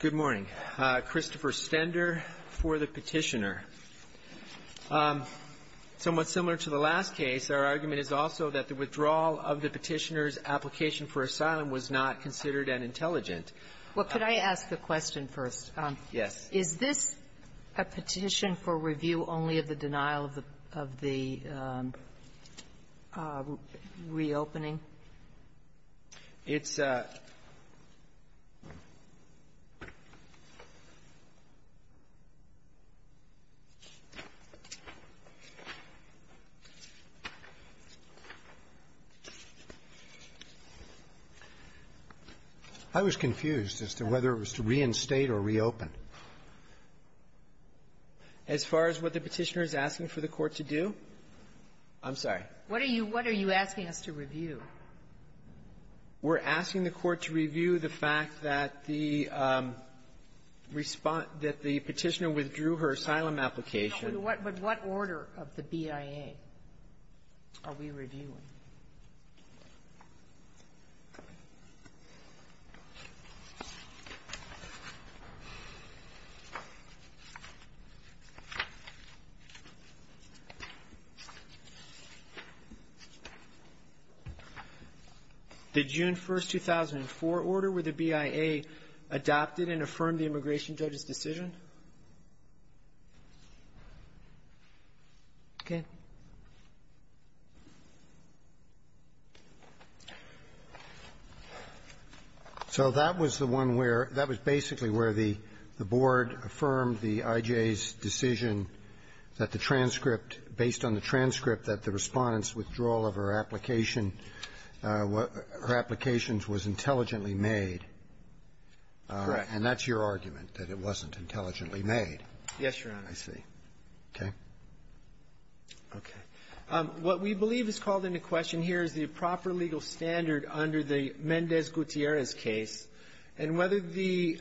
Good morning. Christopher Stender for the petitioner. Somewhat similar to the last case, our argument is also that the withdrawal of the petitioner's application for asylum was not considered an intelligent. Sotomayor Well, could I ask a question first? Goodman Yes. Sotomayor Is this a petition for review only of the denial of the reopening? Goodman It's a ---- I was confused as to whether it was to reinstate or reopen. As far as what the Petitioner is asking for the Court to do? I'm sorry. Sotomayor What are you asking us to review? Goodman We're asking the Court to review the fact that the response that the Petitioner withdrew her asylum application. Sotomayor But what order of the BIA are we reviewing? Goodman The June 1, 2004 order where the BIA adopted and affirmed the immigration judge's decision. Sotomayor Okay. Roberts So that was the one where the Board affirmed the IJA's decision that the transcript, based on the transcript, that the Respondent's withdrawal of her application her applications was intelligently made. Goodman Correct. Roberts And that's your argument, that it wasn't intelligently made. Goodman Yes, Your Honor. Roberts I see. Okay. Goodman Okay. What we believe is called into question here is the proper legal standard under the Mendez-Gutierrez case, and whether the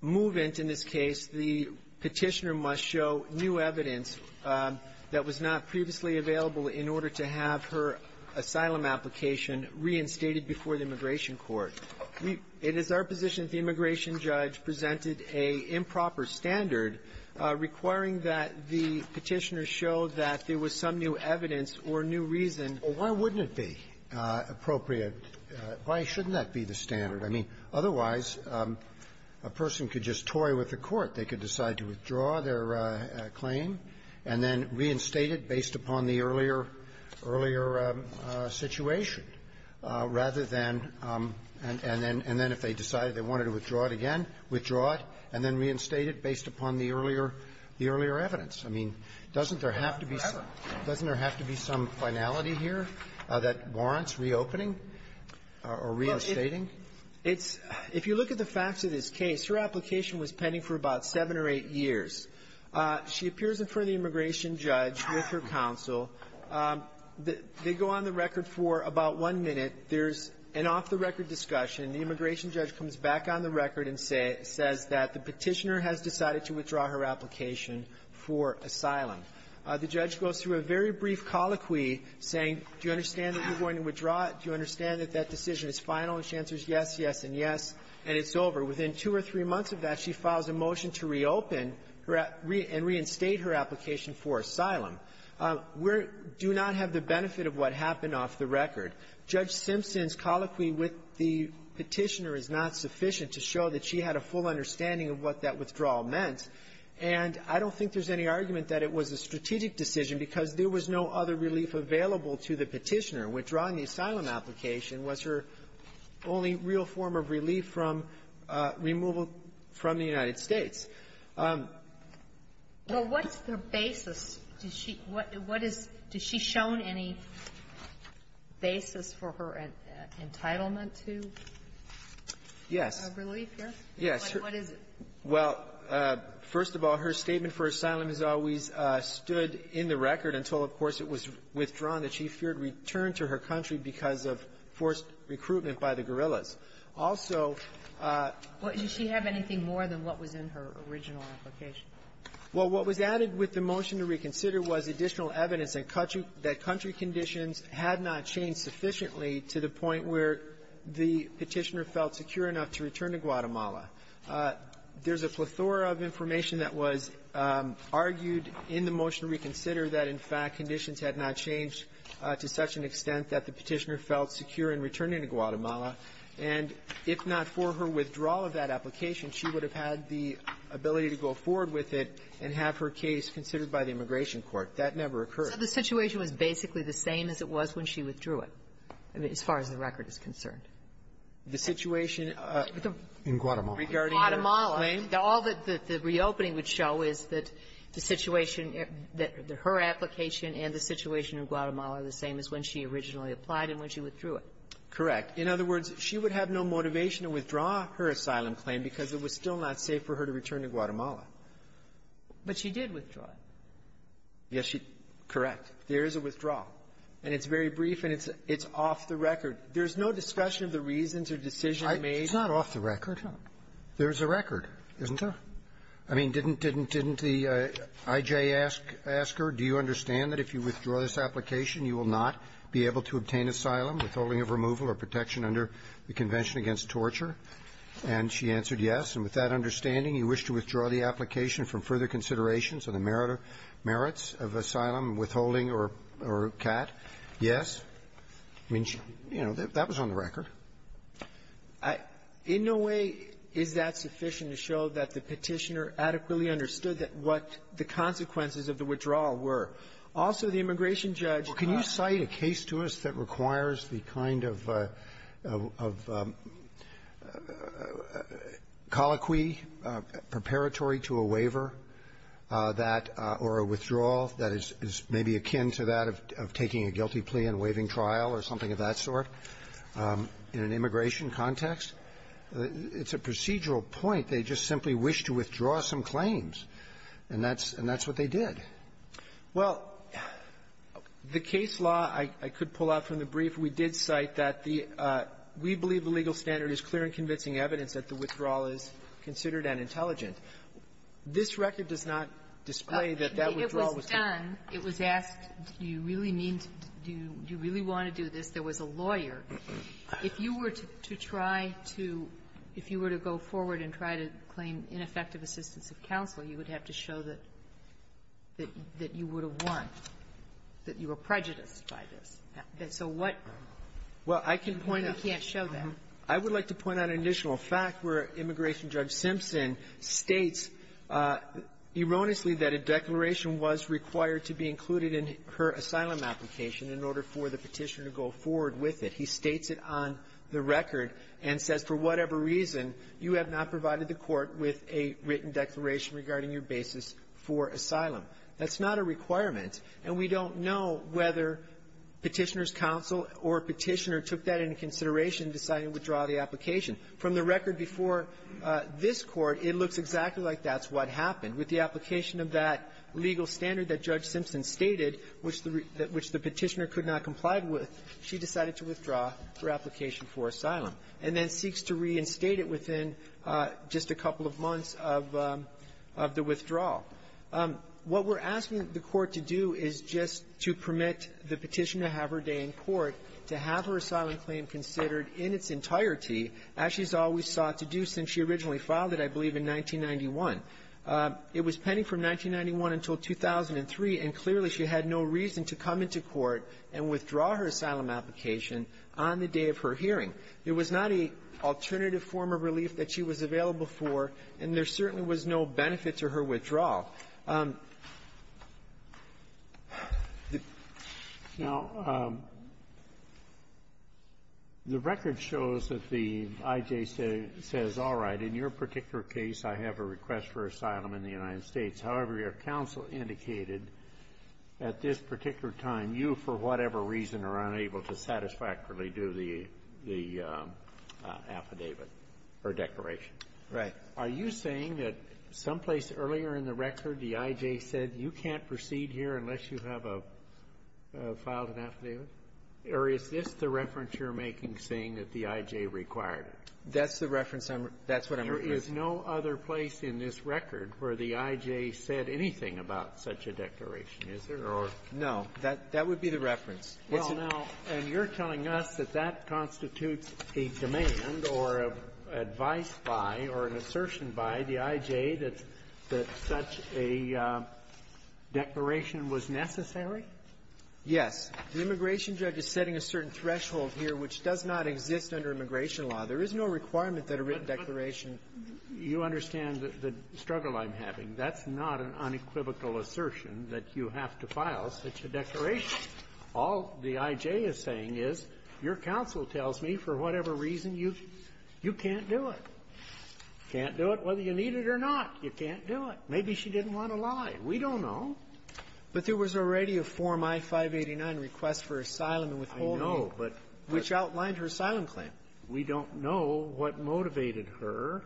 movement in this case, the Petitioner must show new evidence that was not previously available in order to have her asylum application reinstated before the Immigration Court. It is our position that the immigration judge presented a improper standard requiring that the Petitioner show that there was some new evidence or new reason. Scalia Well, why wouldn't it be appropriate? Why shouldn't that be the standard? They could decide to withdraw their claim and then reinstate it based upon the earlier situation, rather than and then if they decided they wanted to withdraw it again, withdraw it and then reinstate it based upon the earlier evidence. I mean, doesn't there have to be some finality here that warrants reopening or reinstating? It's If you look at the facts of this case, her application was pending for about seven or eight years. She appears in front of the immigration judge with her counsel. They go on the record for about one minute. There's an off-the-record discussion. The immigration judge comes back on the record and says that the Petitioner has decided to withdraw her application for asylum. The judge goes through a very brief colloquy saying, do you understand that you're going to withdraw it? Do you understand that that decision is final? And she answers yes, yes, and yes, and it's over. Within two or three months of that, she files a motion to reopen and reinstate her application for asylum. We're do not have the benefit of what happened off the record. Judge Simpson's colloquy with the Petitioner is not sufficient to show that she had a full understanding of what that withdrawal meant, and I don't think there's any argument that it was a strategic decision because there was no other relief available to the Petitioner. Withdrawing the asylum application was her only real form of relief from removal from the United States. Well, what's the basis? Does she what is does she shown any basis for her entitlement to? Yes. Relief, yes? Yes. What is it? Well, first of all, her statement for asylum has always stood in the record until, of course, it was withdrawn that she feared return to her country because of forced recruitment by the guerrillas. Also --" Well, does she have anything more than what was in her original application? Well, what was added with the motion to reconsider was additional evidence that country conditions had not changed sufficiently to the point where the Petitioner felt secure enough to return to Guatemala. There's a plethora of information that was argued in the motion to reconsider that, in fact, conditions had not changed to such an extent that the Petitioner felt secure in returning to Guatemala, and if not for her withdrawal of that application, she would have had the ability to go forward with it and have her case considered by the immigration court. That never occurred. So the situation was basically the same as it was when she withdrew it, as far as the record is concerned? The situation regarding her claim? All that the reopening would show is that the situation, that her application and the situation in Guatemala are the same as when she originally applied and when she withdrew it. Correct. In other words, she would have no motivation to withdraw her asylum claim because it was still not safe for her to return to Guatemala. But she did withdraw it. Yes, she did. Correct. There is a withdrawal. And it's very brief, and it's off the record. There's no discussion of the reasons or decision made. It's not off the record. There's a record. Isn't there? I mean, didn't the I.J. ask her, do you understand that if you withdraw this application, you will not be able to obtain asylum, withholding of removal, or protection under the Convention Against Torture? And she answered yes. And with that understanding, you wish to withdraw the application from further considerations of the merits of asylum, withholding, or CAT? Yes? I mean, you know, that was on the record. In no way is that sufficient to show that the Petitioner adequately understood that what the consequences of the withdrawal were. Also, the immigration judge can't ---- Well, can you cite a case to us that requires the kind of colloquy preparatory to a waiver that or a withdrawal that is maybe akin to that of taking a guilty plea in waiving trial or something of that sort in an immigration context. It's a procedural point. They just simply wish to withdraw some claims. And that's what they did. Well, the case law, I could pull out from the brief. We did cite that the ---- we believe the legal standard is clear and convincing evidence that the withdrawal is considered unintelligent. This record does not display that that withdrawal was done. It was asked, do you really mean to do you really want to do this? There was a lawyer. If you were to try to go forward and try to claim ineffective assistance of counsel, you would have to show that you would have won, that you were prejudiced by this. So what ---- Well, I can point out ---- You can't show that. I would like to point out an additional fact where Immigration Judge Simpson states erroneously that a declaration was required to be included in her asylum application in order for the Petitioner to go forward with it. He states it on the record and says, for whatever reason, you have not provided the Court with a written declaration regarding your basis for asylum. That's not a requirement. And we don't know whether Petitioner's counsel or Petitioner took that into consideration and decided to withdraw the application. From the record before this Court, it looks exactly like that's what happened. With the application of that legal standard that Judge Simpson stated, which the Petitioner could not comply with, she decided to withdraw her application for asylum and then seeks to reinstate it within just a couple of months of the withdrawal. What we're asking the Court to do is just to permit the Petitioner to have her day in its entirety, as she's always sought to do since she originally filed it, I believe, in 1991. It was pending from 1991 until 2003, and clearly she had no reason to come into court and withdraw her asylum application on the day of her hearing. It was not an alternative form of relief that she was available for, and there certainly was no benefit to her withdrawal. Now, the record shows that the I.J. says, all right, in your particular case, I have a request for asylum in the United States. However, your counsel indicated at this particular time, you, for whatever reason, are unable to satisfactorily do the affidavit or declaration. Right. Are you saying that someplace earlier in the record, the I.J. said, you can't proceed here unless you have a filed affidavit? Or is this the reference you're making, saying that the I.J. required it? That's the reference I'm -- that's what I'm referring to. There is no other place in this record where the I.J. said anything about such a declaration, is there? No. That would be the reference. Well, now, and you're telling us that that constitutes a demand or advice by or an assertion by the I.J. that such a declaration was necessary? Yes. The immigration judge is setting a certain threshold here, which does not exist under immigration law. There is no requirement that a written declaration -- You understand the struggle I'm having. That's not an unequivocal assertion that you have to file such a declaration. All the I.J. is saying is, your counsel tells me, for whatever reason, you can't do it. Can't do it whether you need it or not. You can't do it. Maybe she didn't want to lie. We don't know. But there was already a Form I-589 request for asylum and withholding. I know, but -- Which outlined her asylum claim. We don't know what motivated her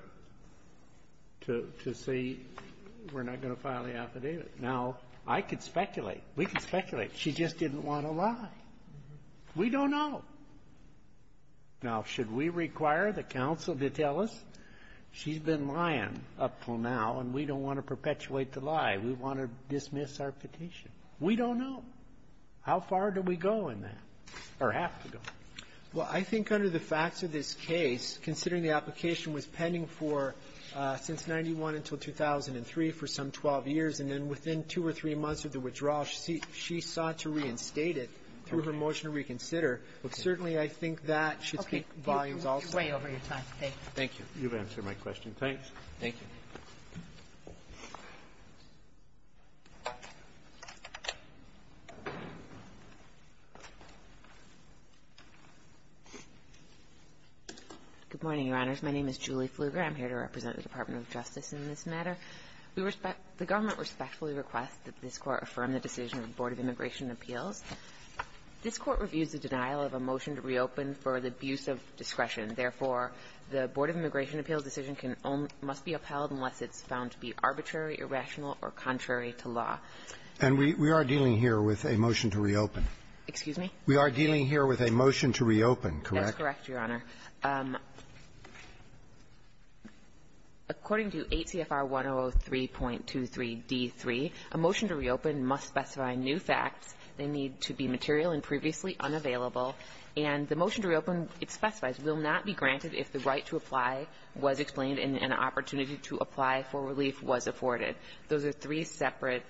to say, we're not going to file the affidavit. Now, I could speculate. We could speculate. She just didn't want to lie. We don't know. Now, should we require the counsel to tell us, she's been lying up until now, and we don't want to perpetuate the lie. We want to dismiss our petition. We don't know. How far do we go in that, or have to go? Well, I think under the facts of this case, considering the application was pending for since 91 until 2003 for some 12 years, and then within two or three months of the withdrawal, she sought to reinstate it through her motion to reconsider. But certainly, I think that should speak volumes also. Okay. You're way over your time. Thank you. You've answered my question. Thanks. Thank you. Good morning, Your Honors. My name is Julie Pfluger. I'm here to represent the Department of Justice in this matter. We respect the government respectfully request that this Court affirm the decision of the Board of Immigration Appeals. This Court reviews the denial of a motion to reopen for the abuse of discretion. Therefore, the Board of Immigration Appeals decision can only be upheld unless it's found to be arbitrary, irrational, or contrary to law. And we are dealing here with a motion to reopen. Excuse me? We are dealing here with a motion to reopen, correct? That's correct, Your Honor. According to 8 CFR 103.23d3, a motion to reopen must specify new facts. They need to be material and previously unavailable. And the motion to reopen, it specifies, will not be granted if the right to apply was explained and an opportunity to apply for relief was afforded. Those are three separate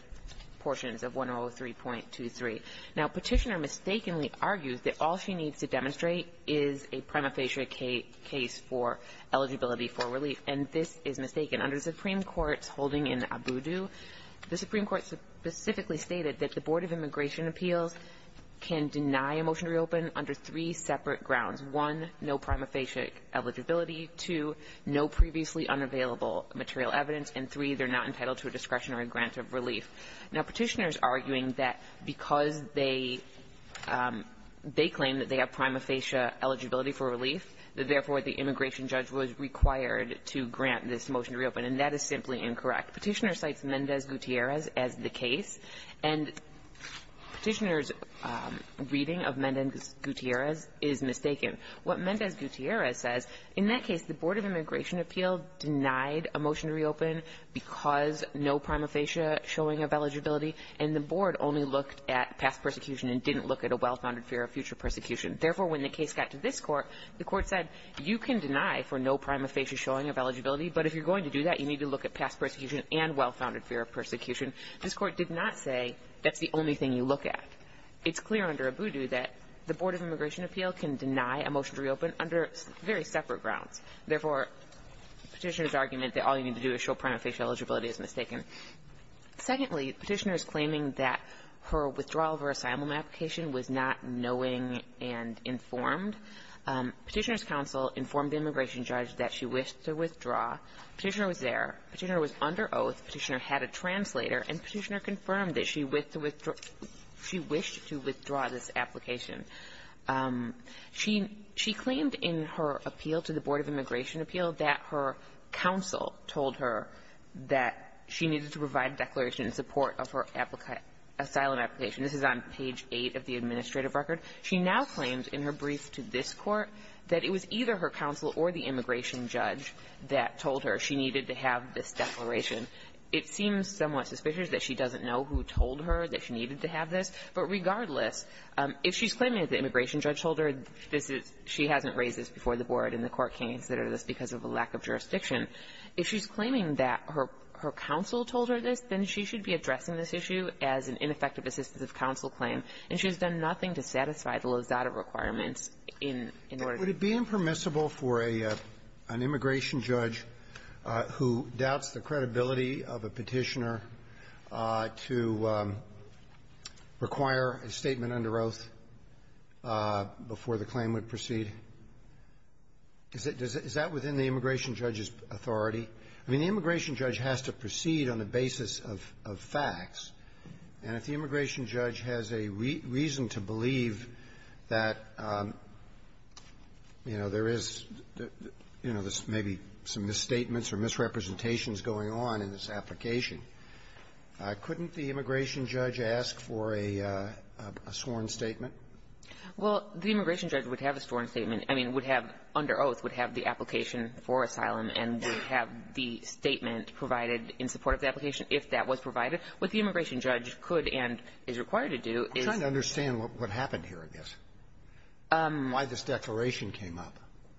portions of 103.23. Now, Petitioner mistakenly argues that all she needs to demonstrate is a prima facie case for eligibility for relief. And this is mistaken. Under the Supreme Court's holding in Abudu, the Supreme Court specifically stated that the Board of Immigration Appeals can deny a motion to reopen under three separate grounds. One, no prima facie eligibility. Two, no previously unavailable material evidence. And three, they're not entitled to a discretionary grant of relief. Now, Petitioners are arguing that because they claim that they have prima facie eligibility for relief, that therefore the immigration judge was required to grant this motion to reopen. And that is simply incorrect. Petitioner cites Mendez Gutierrez as the case. And Petitioner's reading of Mendez Gutierrez is mistaken. What Mendez Gutierrez says, in that case, the Board of Immigration Appeals denied a prima facie showing of eligibility, and the Board only looked at past persecution and didn't look at a well-founded fear of future persecution. Therefore, when the case got to this Court, the Court said, you can deny for no prima facie showing of eligibility, but if you're going to do that, you need to look at past persecution and well-founded fear of persecution. This Court did not say that's the only thing you look at. It's clear under Abudu that the Board of Immigration Appeals can deny a motion to reopen under very separate grounds. Therefore, Petitioner's argument that all you need to do is show prima facie eligibility is mistaken. Secondly, Petitioner is claiming that her withdrawal of her asylum application was not knowing and informed. Petitioner's counsel informed the immigration judge that she wished to withdraw. Petitioner was there. Petitioner was under oath. Petitioner had a translator. And Petitioner confirmed that she wished to withdraw this application. She claimed in her appeal to the Board of Immigration Appeals that her counsel told her that she needed to provide a declaration in support of her asylum application. This is on page 8 of the administrative record. She now claims in her brief to this Court that it was either her counsel or the immigration judge that told her she needed to have this declaration. It seems somewhat suspicious that she doesn't know who told her that she needed to have this. But regardless, if she's claiming that the immigration judge told her this is she hasn't raised this before the Board and the Court can't consider this because of a lack of jurisdiction, if she's claiming that her counsel told her this, then she should be addressing this issue as an ineffective assistance of counsel claim. And she has done nothing to satisfy the Lozada requirements in order to do that. Roberts. Roberts. Would it be impermissible for an immigration judge who doubts the credibility of a Petitioner to require a statement under oath before the claim would proceed? I mean, is that within the immigration judge's authority? I mean, the immigration judge has to proceed on the basis of facts. And if the immigration judge has a reason to believe that, you know, there is, you know, there's maybe some misstatements or misrepresentations going on in this application, couldn't the immigration judge ask for a sworn statement? Well, the immigration judge would have a sworn statement. I mean, would have under oath, would have the application for asylum and would have the statement provided in support of the application if that was provided. What the immigration judge could and is required to do is to understand what happened here, I guess. Why this declaration came up.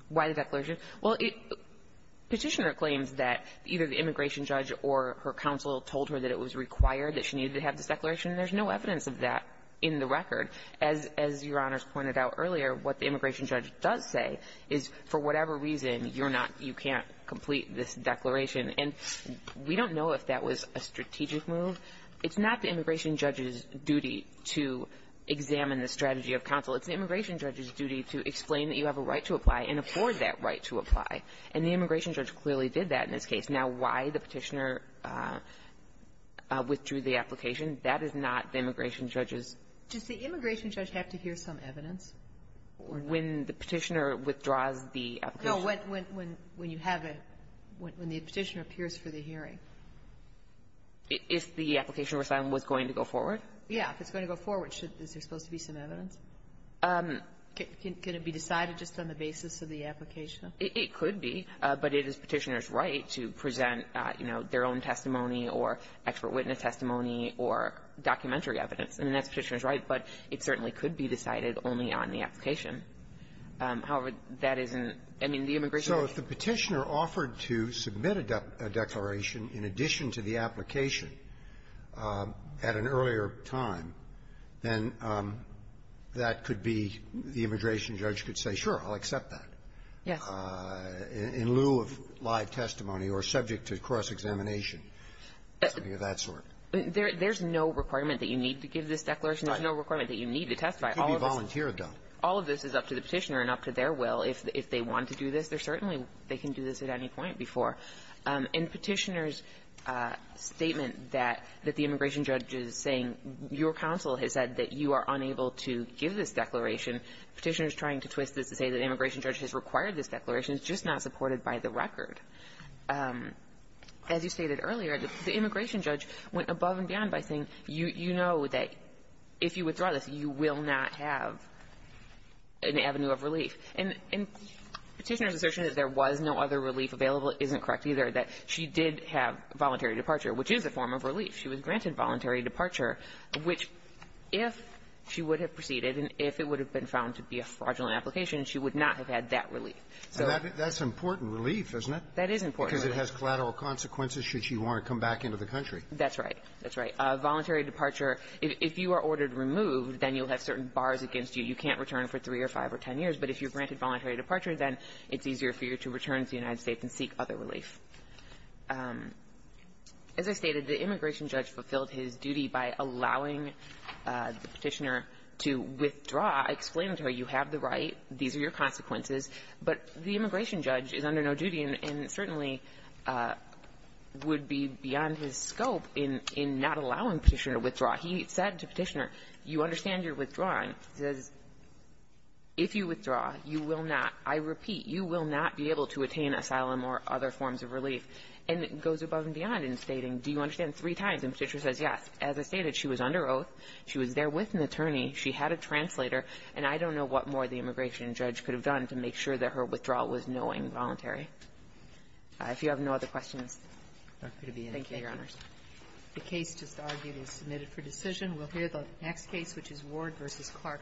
Why the declaration? Well, Petitioner claims that either the immigration judge or her counsel told her that it was required, that she needed to have this declaration, and there's no evidence of that in the record. As Your Honors pointed out earlier, what the immigration judge does say is, for whatever reason, you're not you can't complete this declaration. And we don't know if that was a strategic move. It's not the immigration judge's duty to examine the strategy of counsel. It's the immigration judge's duty to explain that you have a right to apply and afford that right to apply. And the immigration judge clearly did that in this case. Now, why the Petitioner withdrew the application, that is not the immigration judge's. Does the immigration judge have to hear some evidence? When the Petitioner withdraws the application? No. When you have a when the Petitioner appears for the hearing. If the application was going to go forward? Yeah. If it's going to go forward, is there supposed to be some evidence? Can it be decided just on the basis of the application? It could be. But it is Petitioner's right to present, you know, their own testimony or expert witness testimony or documentary evidence. And that's Petitioner's right, but it certainly could be decided only on the application. However, that isn't, I mean, the immigration judge. So if the Petitioner offered to submit a declaration in addition to the application at an earlier time, then that could be the immigration judge could say, sure, I'll accept that. Yes. In lieu of live testimony or subject to cross-examination, something of that sort. There's no requirement that you need to give this declaration. There's no requirement that you need to testify. It could be volunteer done. All of this is up to the Petitioner and up to their will. If they want to do this, they're certainly they can do this at any point before. In Petitioner's statement that the immigration judge is saying your counsel has said that you are unable to give this declaration, Petitioner is trying to twist this to say that the immigration judge has required this declaration. It's just not supported by the record. As you stated earlier, the immigration judge went above and beyond by saying, you know that if you withdraw this, you will not have an avenue of relief. And Petitioner's assertion that there was no other relief available isn't correct either, that she did have voluntary departure, which is a form of relief. She was granted voluntary departure, which if she would have proceeded and if it would have been found to be a fraudulent application, she would not have had that relief. So that's important relief, isn't it? That is important relief. Because it has collateral consequences should she want to come back into the country. That's right. That's right. Voluntary departure, if you are ordered removed, then you'll have certain bars against you. You can't return for three or five or ten years. But if you're granted voluntary departure, then it's easier for you to return to the United States and seek other relief. As I stated, the immigration judge fulfilled his duty by allowing the Petitioner to withdraw, explaining to her you have the right, these are your consequences, but the immigration judge is under no duty and certainly would be beyond his scope in not allowing Petitioner to withdraw. He said to Petitioner, you understand you're withdrawing. He says, if you withdraw, you will not, I repeat, you will not be able to attain asylum or other forms of relief. And it goes above and beyond in stating, do you understand, three times. And Petitioner says, yes. As I stated, she was under oath. She was there with an attorney. She had a translator. And I don't know what more the immigration judge could have done to make sure that her withdrawal was knowing voluntary. If you have no other questions, thank you, Your Honors. The case just argued is submitted for decision. We'll hear the next case, which is Ward v. Clark County.